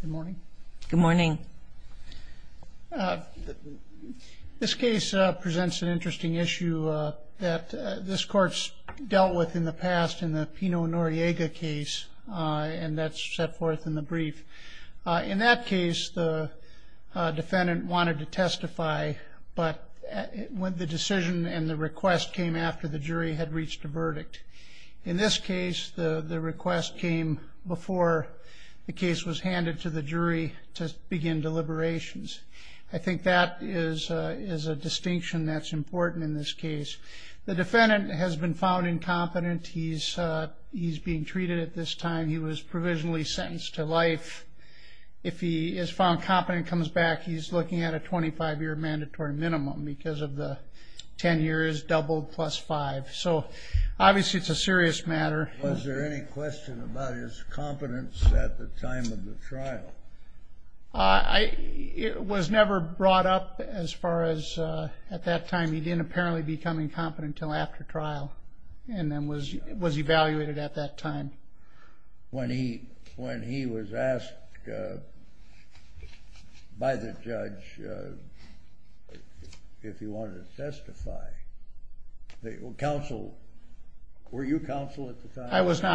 Good morning. Good morning. This case presents an interesting issue that this court's dealt with in the past in the Pino Noriega case and that's set forth in the brief. In that case the defendant wanted to testify but when the decision and the request came after the jury had reached a verdict. In this case the case was handed to the jury to begin deliberations. I think that is a distinction that's important in this case. The defendant has been found incompetent. He's being treated at this time. He was provisionally sentenced to life. If he is found competent and comes back he's looking at a 25-year mandatory minimum because of the 10 years double plus five. So obviously it's a serious matter. Was there any question about his competence at the time of the trial? It was never brought up as far as at that time. He didn't apparently become incompetent until after trial and then was was evaluated at that time. When he I was not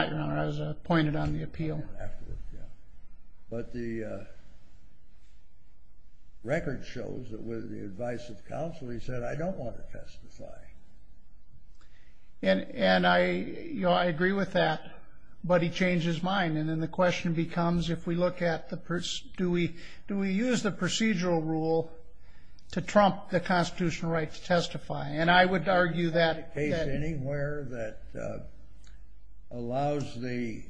your honor. I was appointed on the appeal. But the record shows that with the advice of counsel he said I don't want to testify. And and I you know I agree with that but he changed his mind and then the question becomes if we look at the person do we do we use the procedural rule to trump the allows the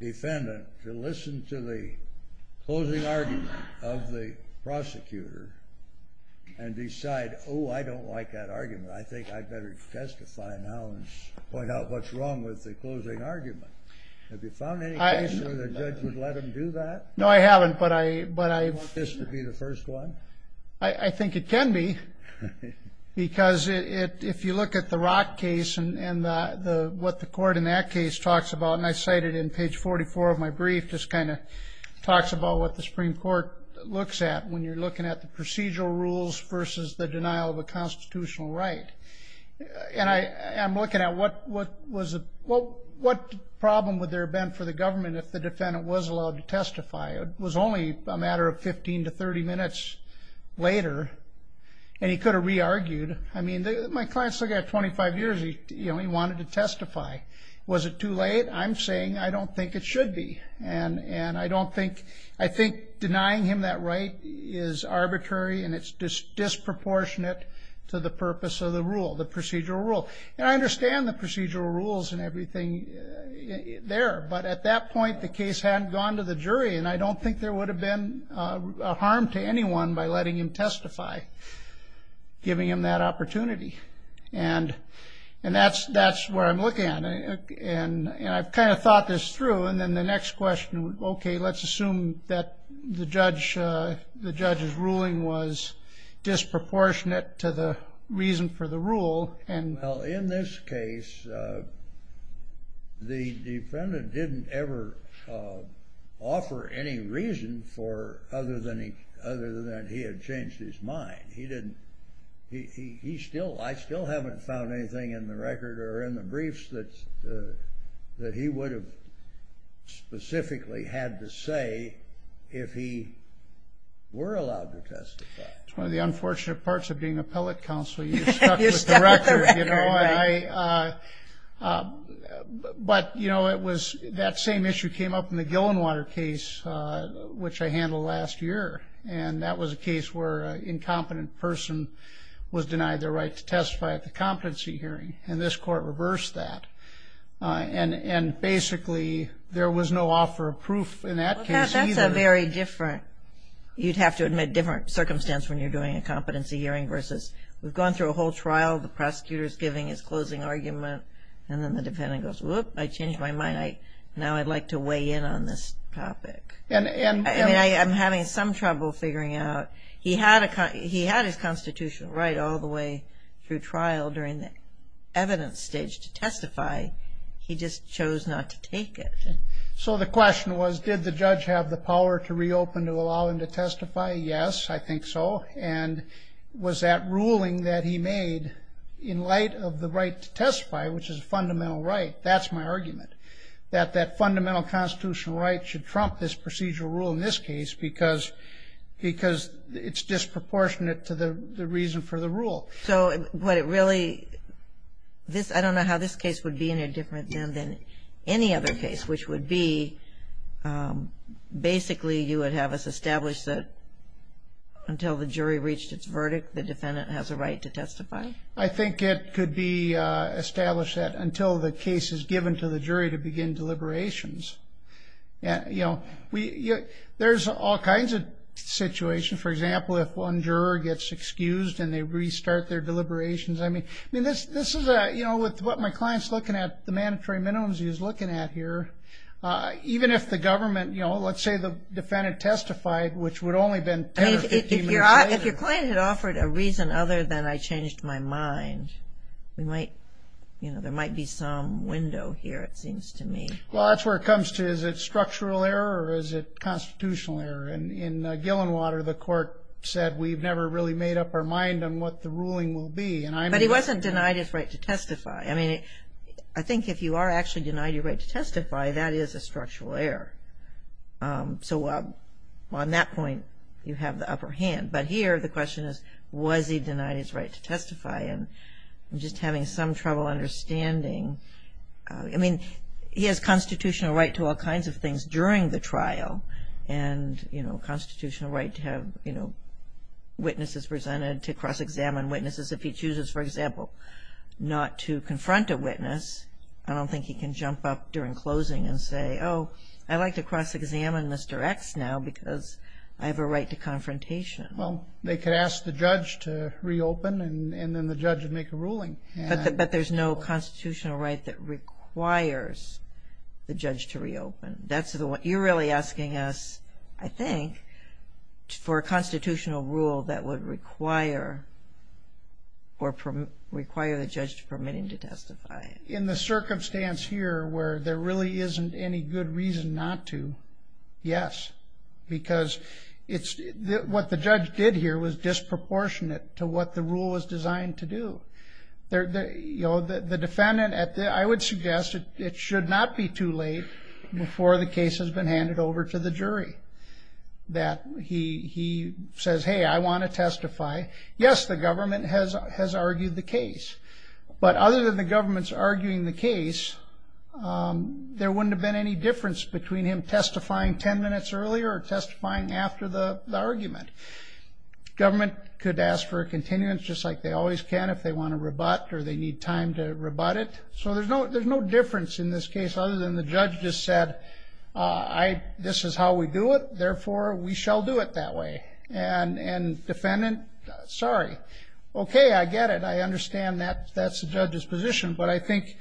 defendant to listen to the closing argument of the prosecutor and decide oh I don't like that argument I think I'd better testify now and point out what's wrong with the closing argument. Have you found any case where the judge would let him do that? No I haven't but I but I... Do you want this to be the first one? I think it can be because it if you look at the Rock case and what the court in that case talks about and I cited in page 44 of my brief just kind of talks about what the Supreme Court looks at when you're looking at the procedural rules versus the denial of a constitutional right. And I'm looking at what what was what what problem would there have been for the government if the defendant was allowed to testify. It was only a matter of 15 to 30 minutes later and he could have re-argued. I mean my client's still got 25 years he you know he wanted to testify. Was it too late? I'm saying I don't think it should be and and I don't think I think denying him that right is arbitrary and it's just disproportionate to the purpose of the rule the procedural rule. And I understand the procedural rules and everything there but at that point the case hadn't gone to the jury and I don't think there would have been a harm to anyone by letting him testify giving him that opportunity. And and that's that's where I'm looking at and and I've kind of thought this through and then the next question okay let's assume that the judge the judge's ruling was disproportionate to the reason for the rule. Well in this case the defendant didn't ever offer any reason for other than he had changed his mind. He didn't he still I still haven't found anything in the record or in the briefs that that he would have specifically had to say if he were allowed to testify. It's one of the unfortunate parts of being a appellate counsel. You're stuck with the record. But you know it was that same issue came up in the and that was a case where an incompetent person was denied their right to testify at the competency hearing and this court reversed that. And and basically there was no offer of proof in that case. That's a very different you'd have to admit different circumstance when you're doing a competency hearing versus we've gone through a whole trial the prosecutors giving his closing argument and then the defendant goes whoop I changed my mind I now I'd like to weigh in on this topic. And I'm having some trouble figuring out he had a he had his constitutional right all the way through trial during the evidence stage to testify he just chose not to take it. So the question was did the judge have the power to reopen to allow him to testify? Yes I think so. And was that ruling that he made in light of the right to testify which is a fundamental right that's my argument that that fundamental constitutional right should trump this procedural rule in this case because because it's disproportionate to the reason for the rule. So what it really this I don't know how this case would be any different than than any other case which would be basically you would have us establish that until the jury reached its verdict the defendant has a right to testify. I to begin deliberations and you know we there's all kinds of situations for example if one juror gets excused and they restart their deliberations I mean I mean this this is a you know with what my clients looking at the mandatory minimums he was looking at here even if the government you know let's say the defendant testified which would only been if your client had offered a reason other than I changed my mind we might you know there might be some window here it seems to me. Well that's where it comes to is it structural error or is it constitutional error and in Gillenwater the court said we've never really made up our mind on what the ruling will be. But he wasn't denied his right to testify I mean I think if you are actually denied your right to testify that is a structural error. So on that point you have the upper hand but here the question is was he denied his right to testify and I'm just having some trouble understanding I mean he has constitutional right to all kinds of things during the trial and you know constitutional right to have you know witnesses presented to cross-examine witnesses if he chooses for example not to confront a witness I don't think he can jump up during closing and say oh I like to cross-examine Mr. X now because I have a right to confrontation. Well they could ask the judge to reopen and then the judge would make a ruling. But there's no constitutional right that requires the judge to reopen that's the one you're really asking us I think for a constitutional rule that would require or from require the judge permitting to testify. In the circumstance here where there really isn't any good reason not to yes because it's what the judge did here was disproportionate to what the rule was designed to do. The defendant at the I would suggest it should not be too late before the case has been handed over to the jury that he says hey I want to testify yes the government has has argued the case but other than the government's arguing the case there wouldn't have been any difference between him testifying ten minutes earlier or testifying after the argument. Government could ask for a continuance just like they always can if they want to rebut or they need time to rebut it so there's no there's no difference in this case other than the judge just said I this is how we do it therefore we shall do it that way and and defendant sorry okay I get it I understand that that's the judge's position but I think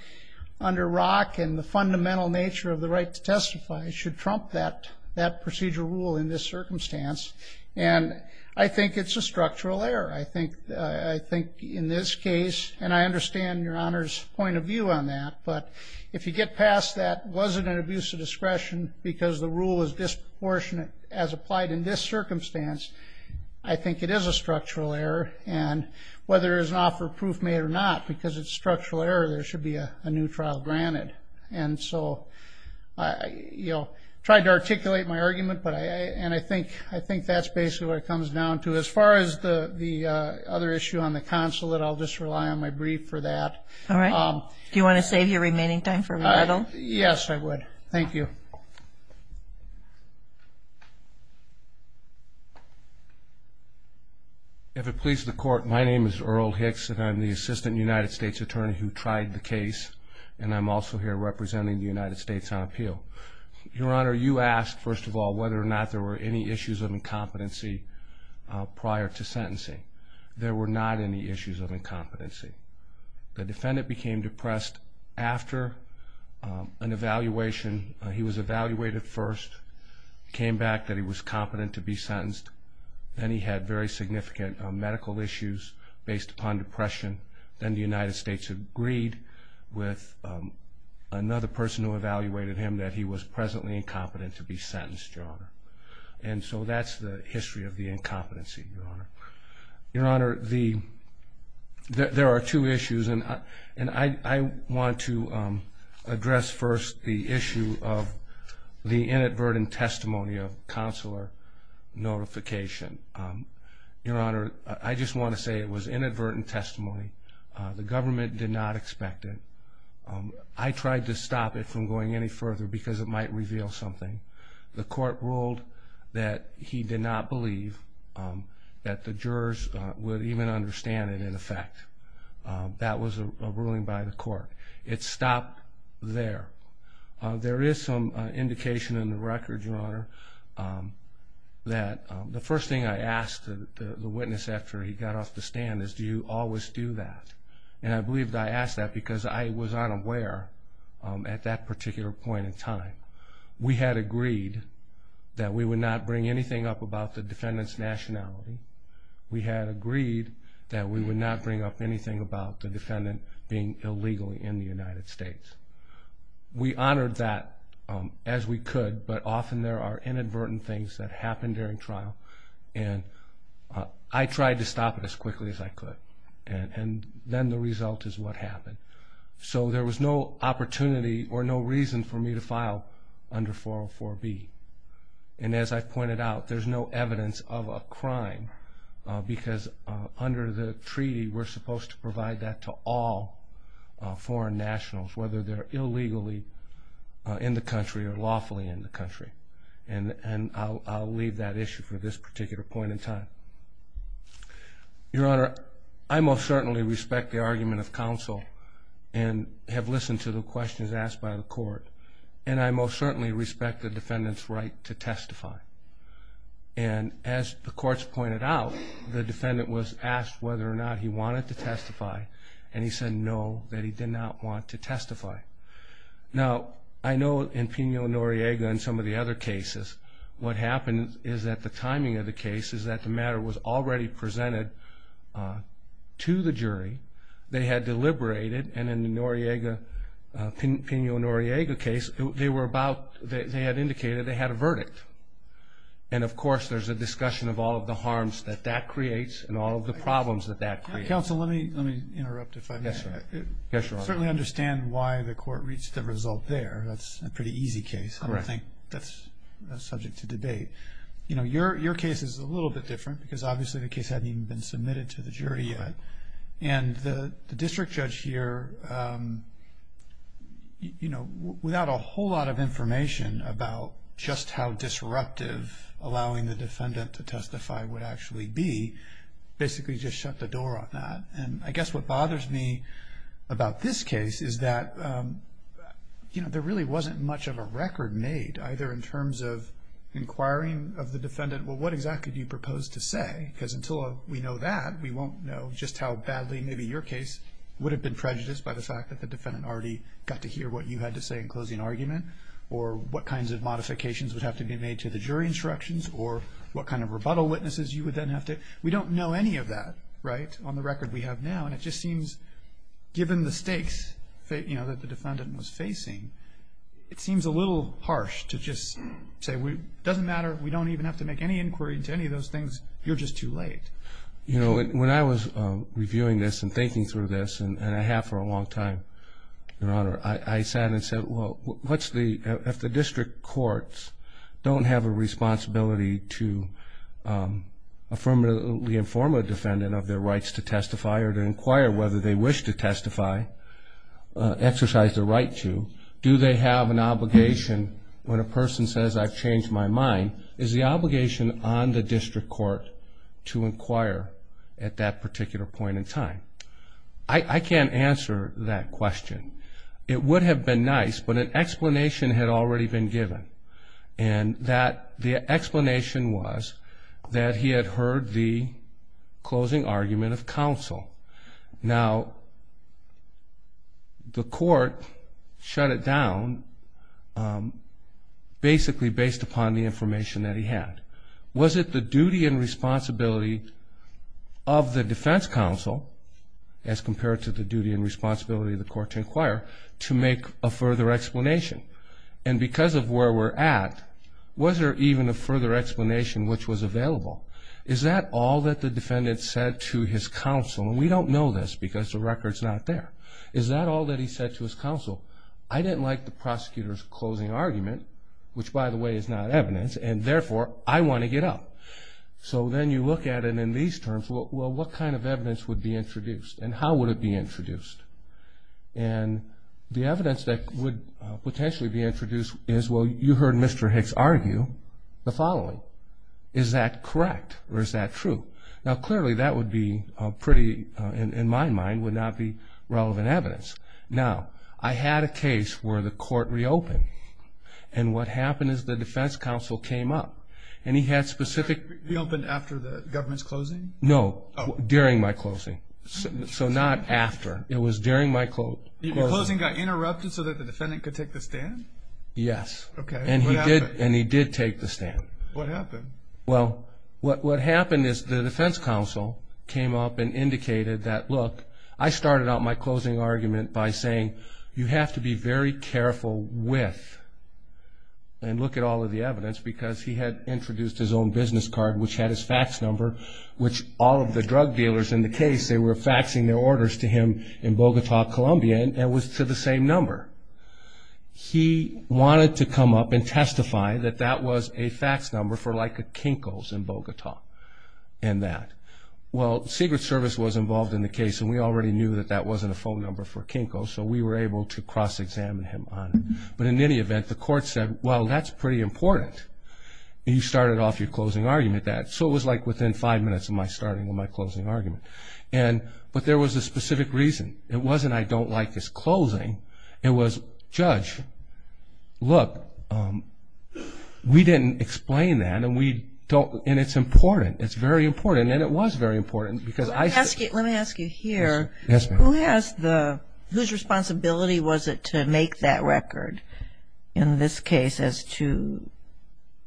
under ROC and the fundamental nature of the right to that procedure rule in this circumstance and I think it's a structural error I think I think in this case and I understand your honors point of view on that but if you get past that wasn't an abuse of discretion because the rule is disproportionate as applied in this circumstance I think it is a structural error and whether there's an offer proof made or not because it's structural error there should be a new trial granted and so I you know tried to argument but I and I think I think that's basically what it comes down to as far as the the other issue on the consulate I'll just rely on my brief for that all right do you want to save your remaining time for me yes I would thank you if it pleases the court my name is Earl Hicks and I'm the assistant United States Attorney who tried the case and I'm also here representing the United States on appeal your honor you asked first of all whether or not there were any issues of incompetency prior to sentencing there were not any issues of incompetency the defendant became depressed after an evaluation he was evaluated first came back that he was competent to be sentenced then he had very significant medical issues based upon depression then the United States agreed with another person who evaluated him that he was presently incompetent to be sentenced your honor and so that's the history of the incompetency your honor your honor the there are two issues and and I want to address first the issue of the inadvertent testimony of counselor notification your honor I just want to say it was inadvertent testimony the government did not expect it I tried to stop it from going any further because it might reveal something the court ruled that he did not believe that the jurors would even understand it in effect that was a ruling by the court it stopped there there is some indication in the record your honor that the first thing I asked the witness after he got off the stand is do you always do that and I believe I asked that because I was unaware at that particular point in time we had agreed that we would not bring anything up about the defendant's nationality we had agreed that we would not bring up anything about the defendant being illegally in the United States we honored that as we could but often there are inadvertent things that quickly as I could and then the result is what happened so there was no opportunity or no reason for me to file under 404 B and as I pointed out there's no evidence of a crime because under the treaty we're supposed to provide that to all foreign nationals whether they're illegally in the country or lawfully in the country and and I'll leave that issue for this particular point in time your honor I most certainly respect the argument of counsel and have listened to the questions asked by the court and I most certainly respect the defendant's right to testify and as the courts pointed out the defendant was asked whether or not he wanted to testify and he said no that he did not want to testify now I know in Pino Noriega and some of the other cases what happened is that the timing of the case is that the matter was already presented to the jury they had deliberated and in the Noriega Pino Noriega case they were about they had indicated they had a verdict and of course there's a discussion of all of the harms that that creates and all of the problems that that counsel let me let me interrupt if I can certainly understand why the court reached the result there that's a pretty easy case I don't think that's subject to debate you know your your case is a little bit different because obviously the case hadn't even been submitted to the jury yet and the district judge here you know without a whole lot of information about just how disruptive allowing the defendant to testify would actually be basically just shut the door on that and I guess what bothers me about this case is that you know there really wasn't much of a record made either in terms of inquiring of the defendant well what exactly do you propose to say because until we know that we won't know just how badly maybe your case would have been prejudiced by the fact that the defendant already got to hear what you had to say in closing argument or what kinds of modifications would have to be made to the jury instructions or what kind of rebuttal witnesses you would then have to we don't know any of that right on the record we have now and it just seems given the stakes that you it seems a little harsh to just say we doesn't matter we don't even have to make any inquiry to any of those things you're just too late you know when I was reviewing this and thinking through this and I have for a long time your honor I sat and said well what's the if the district courts don't have a responsibility to affirmatively inform a defendant of their rights to testify or inquire whether they wish to testify exercise the right to do they have an obligation when a person says I've changed my mind is the obligation on the district court to inquire at that particular point in time I I can't answer that question it would have been nice but an explanation had already been given and that the explanation was that he had heard the closing argument of the defense counsel now the court shut it down basically based upon the information that he had was it the duty and responsibility of the defense counsel as compared to the duty and responsibility of the court to inquire to make a further explanation and because of where we're at was there even a further explanation which was available is that all that the defendant said to his counsel we don't know this because the records not there is that all that he said to his counsel I didn't like the prosecutors closing argument which by the way is not evidence and therefore I want to get up so then you look at it in these terms well what kind of evidence would be introduced and how would it be introduced and the evidence that would potentially be introduced is well you heard mr. Hicks argue the following is that correct or is that true now clearly that would be pretty in my mind would not be relevant evidence now I had a case where the court reopened and what happened is the defense counsel came up and he had specific the open after the government's closing no during my closing so not after it was during my quote closing got interrupted so that the defendant could take the stand yes okay and he did and he did take the what happened well what what happened is the defense counsel came up and indicated that look I started out my closing argument by saying you have to be very careful with and look at all of the evidence because he had introduced his own business card which had his fax number which all of the drug dealers in the case they were faxing their orders to him in Bogota Colombia and was to the fax number for like a Kinko's in Bogota and that well Secret Service was involved in the case and we already knew that that wasn't a phone number for Kinko so we were able to cross-examine him on but in any event the court said well that's pretty important you started off your closing argument that so it was like within five minutes of my starting on my closing argument and but there was a specific reason it wasn't I don't like this closing it was judge look we didn't explain that and we don't and it's important it's very important and it was very important because I ask you let me ask you here yes who has the whose responsibility was it to make that record in this case as to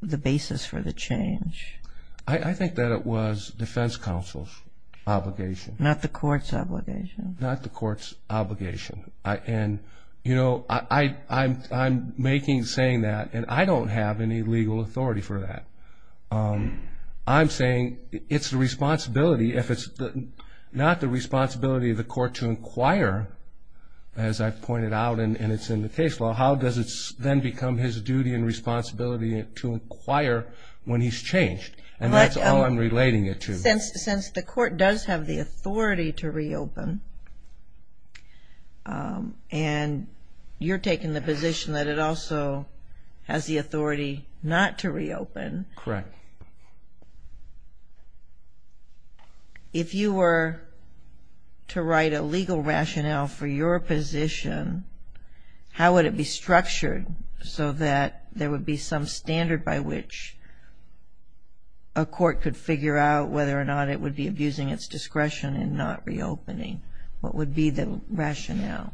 the basis for the change I think that it was defense counsel's obligation not the court's obligation not the court's obligation I and you know I I'm making saying that and I don't have any legal authority for that I'm saying it's the responsibility if it's not the responsibility of the court to inquire as I've pointed out and it's in the case law how does it then become his duty and responsibility to inquire when he's changed and that's all I'm relating it to since the court does have the authority to reopen and you're taking the position that it also has the authority not to reopen correct if you were to write a legal rationale for your position how would it be structured so that there would be some standard by which a court could figure out whether or not it would be abusing its discretion and not reopening what would be the rationale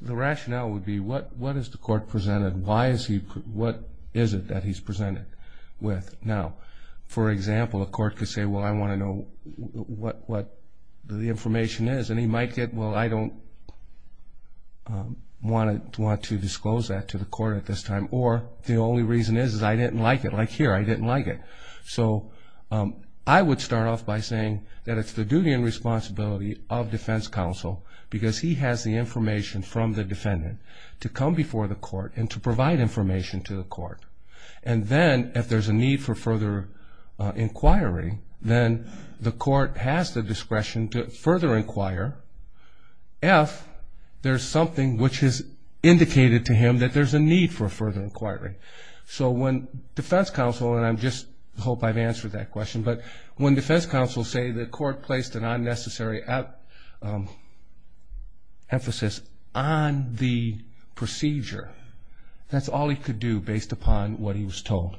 the rationale would be what what is the court presented why is he what is it that he's presented with now for example a court could say well I want to know what what the information is and he might get well I don't want it to want to disclose that to the court at this time or the only reason is I didn't like it like here I didn't like it so I would start off by saying that it's the responsibility of defense counsel because he has the information from the defendant to come before the court and to provide information to the court and then if there's a need for further inquiry then the court has the discretion to further inquire if there's something which is indicated to him that there's a need for further inquiry so when defense counsel and I'm just hope I've answered that question but when defense counsel say the court placed an unnecessary emphasis on the procedure that's all he could do based upon what he was told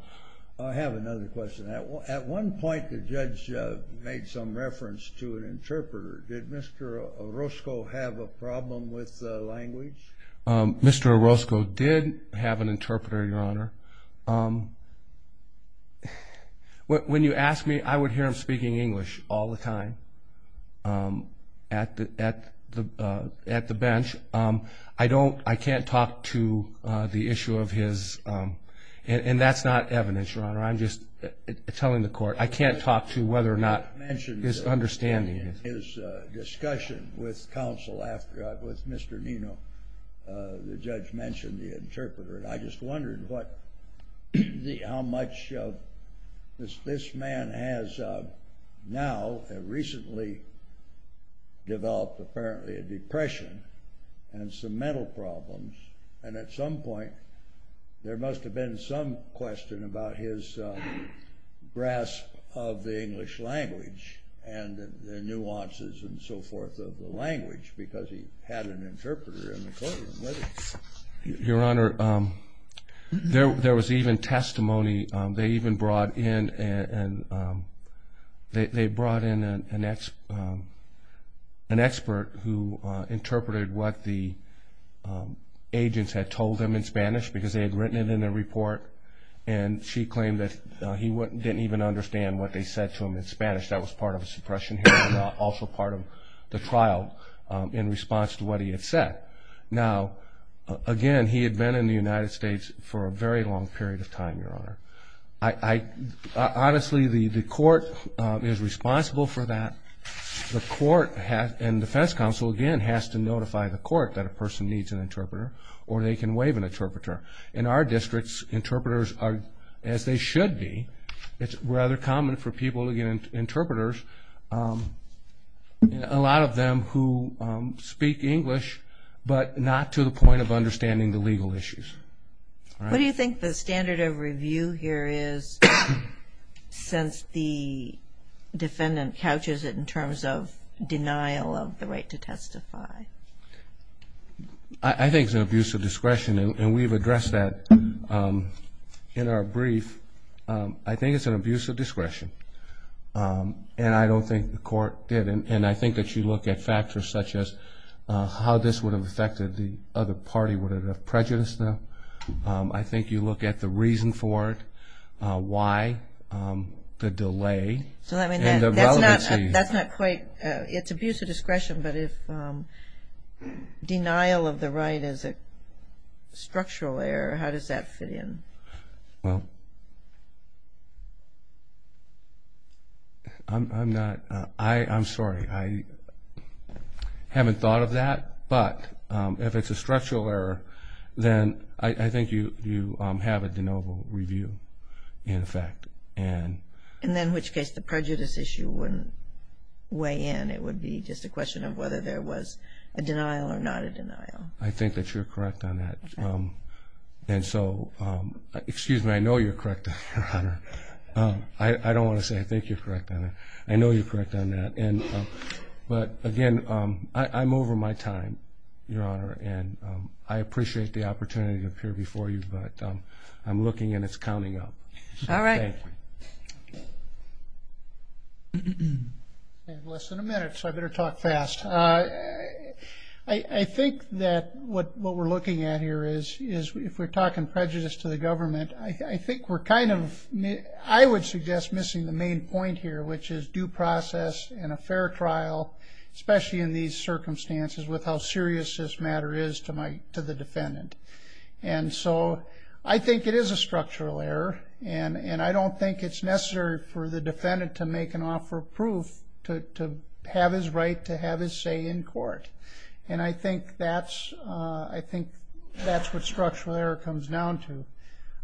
I have another question at one point the judge made some reference to an interpreter did mr. Orozco have a problem with language mr. Orozco did have an interpreter your honor what when you asked me I would hear him speaking English all the time at the at the at the bench I don't I can't talk to the issue of his and that's not evidence your honor I'm just telling the court I can't talk to whether or not his understanding is discussion with I just wondered what how much this man has now recently developed apparently a depression and some mental problems and at some point there must have been some question about his grasp of the English language and nuances and so forth of the there there was even testimony they even brought in and they brought in an expert who interpreted what the agents had told them in Spanish because they had written it in a report and she claimed that he wouldn't didn't even understand what they said to him in Spanish that was part of a suppression also part of the trial in response to what he had said now again he had been in the United States for a very long period of time your honor I honestly the the court is responsible for that the court has and Defense Council again has to notify the court that a person needs an interpreter or they can waive an interpreter in our districts interpreters are as they should be it's rather common for people to get interpreters a lot of them who speak English but not to the point of understanding the legal issues what do you think the standard of review here is since the defendant couches it in terms of denial of the right to testify I think the abuse of discretion and we've addressed that in our brief I think it's an abuse of discretion and I don't think the court did and I think that you look at factors such as how this would have affected the other party would have prejudice now I think you look at the reason for it why the delay so I mean that's not quite it's abuse of discretion but if denial of the right as a structural error how does that fit in well I'm not I I'm sorry I haven't thought of that but if it's a structural error then I think you you have a de novo review in effect and and then which case the prejudice issue wouldn't weigh in it would be just a question of whether there was a denial or not a denial I think that you're correct on and so excuse me I know you're correct I don't want to say I think you're correct on it I know you're correct on that and but again I'm over my time your honor and I appreciate the opportunity to appear before you but I'm looking and it's counting up all right listen a minute so I better talk fast I I think that what what we're looking at here is is if we're talking prejudice to the government I think we're kind of me I would suggest missing the main point here which is due process and a fair trial especially in these circumstances with how serious this matter is to my to the defendant and so I think it is a structural error and and I don't think it's necessary for the defendant to make an offer of proof to have his right to have his say in court and I think that's I think that's what structural error comes down to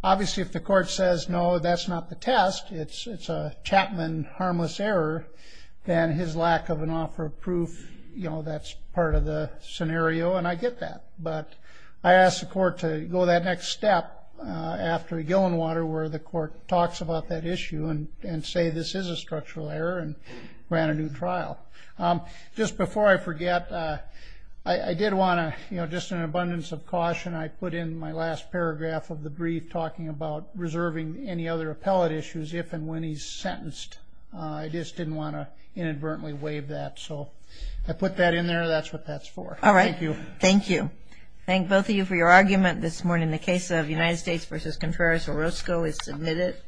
obviously if the court says no that's not the test it's it's a Chapman harmless error then his lack of an offer of proof you know that's part of the scenario and I get that but I asked the court to go that next step after a gallon water where the court talks about that issue and and say this is a structural error and ran a new trial just before I forget I did want to you know just an abundance of caution I put in my last paragraph of the brief talking about reserving any other appellate issues if and when he's sentenced I just didn't want to inadvertently waive that so I put that in there that's what that's for all right you thank you thank both of you for your the case of United States versus Contreras Orozco is submitted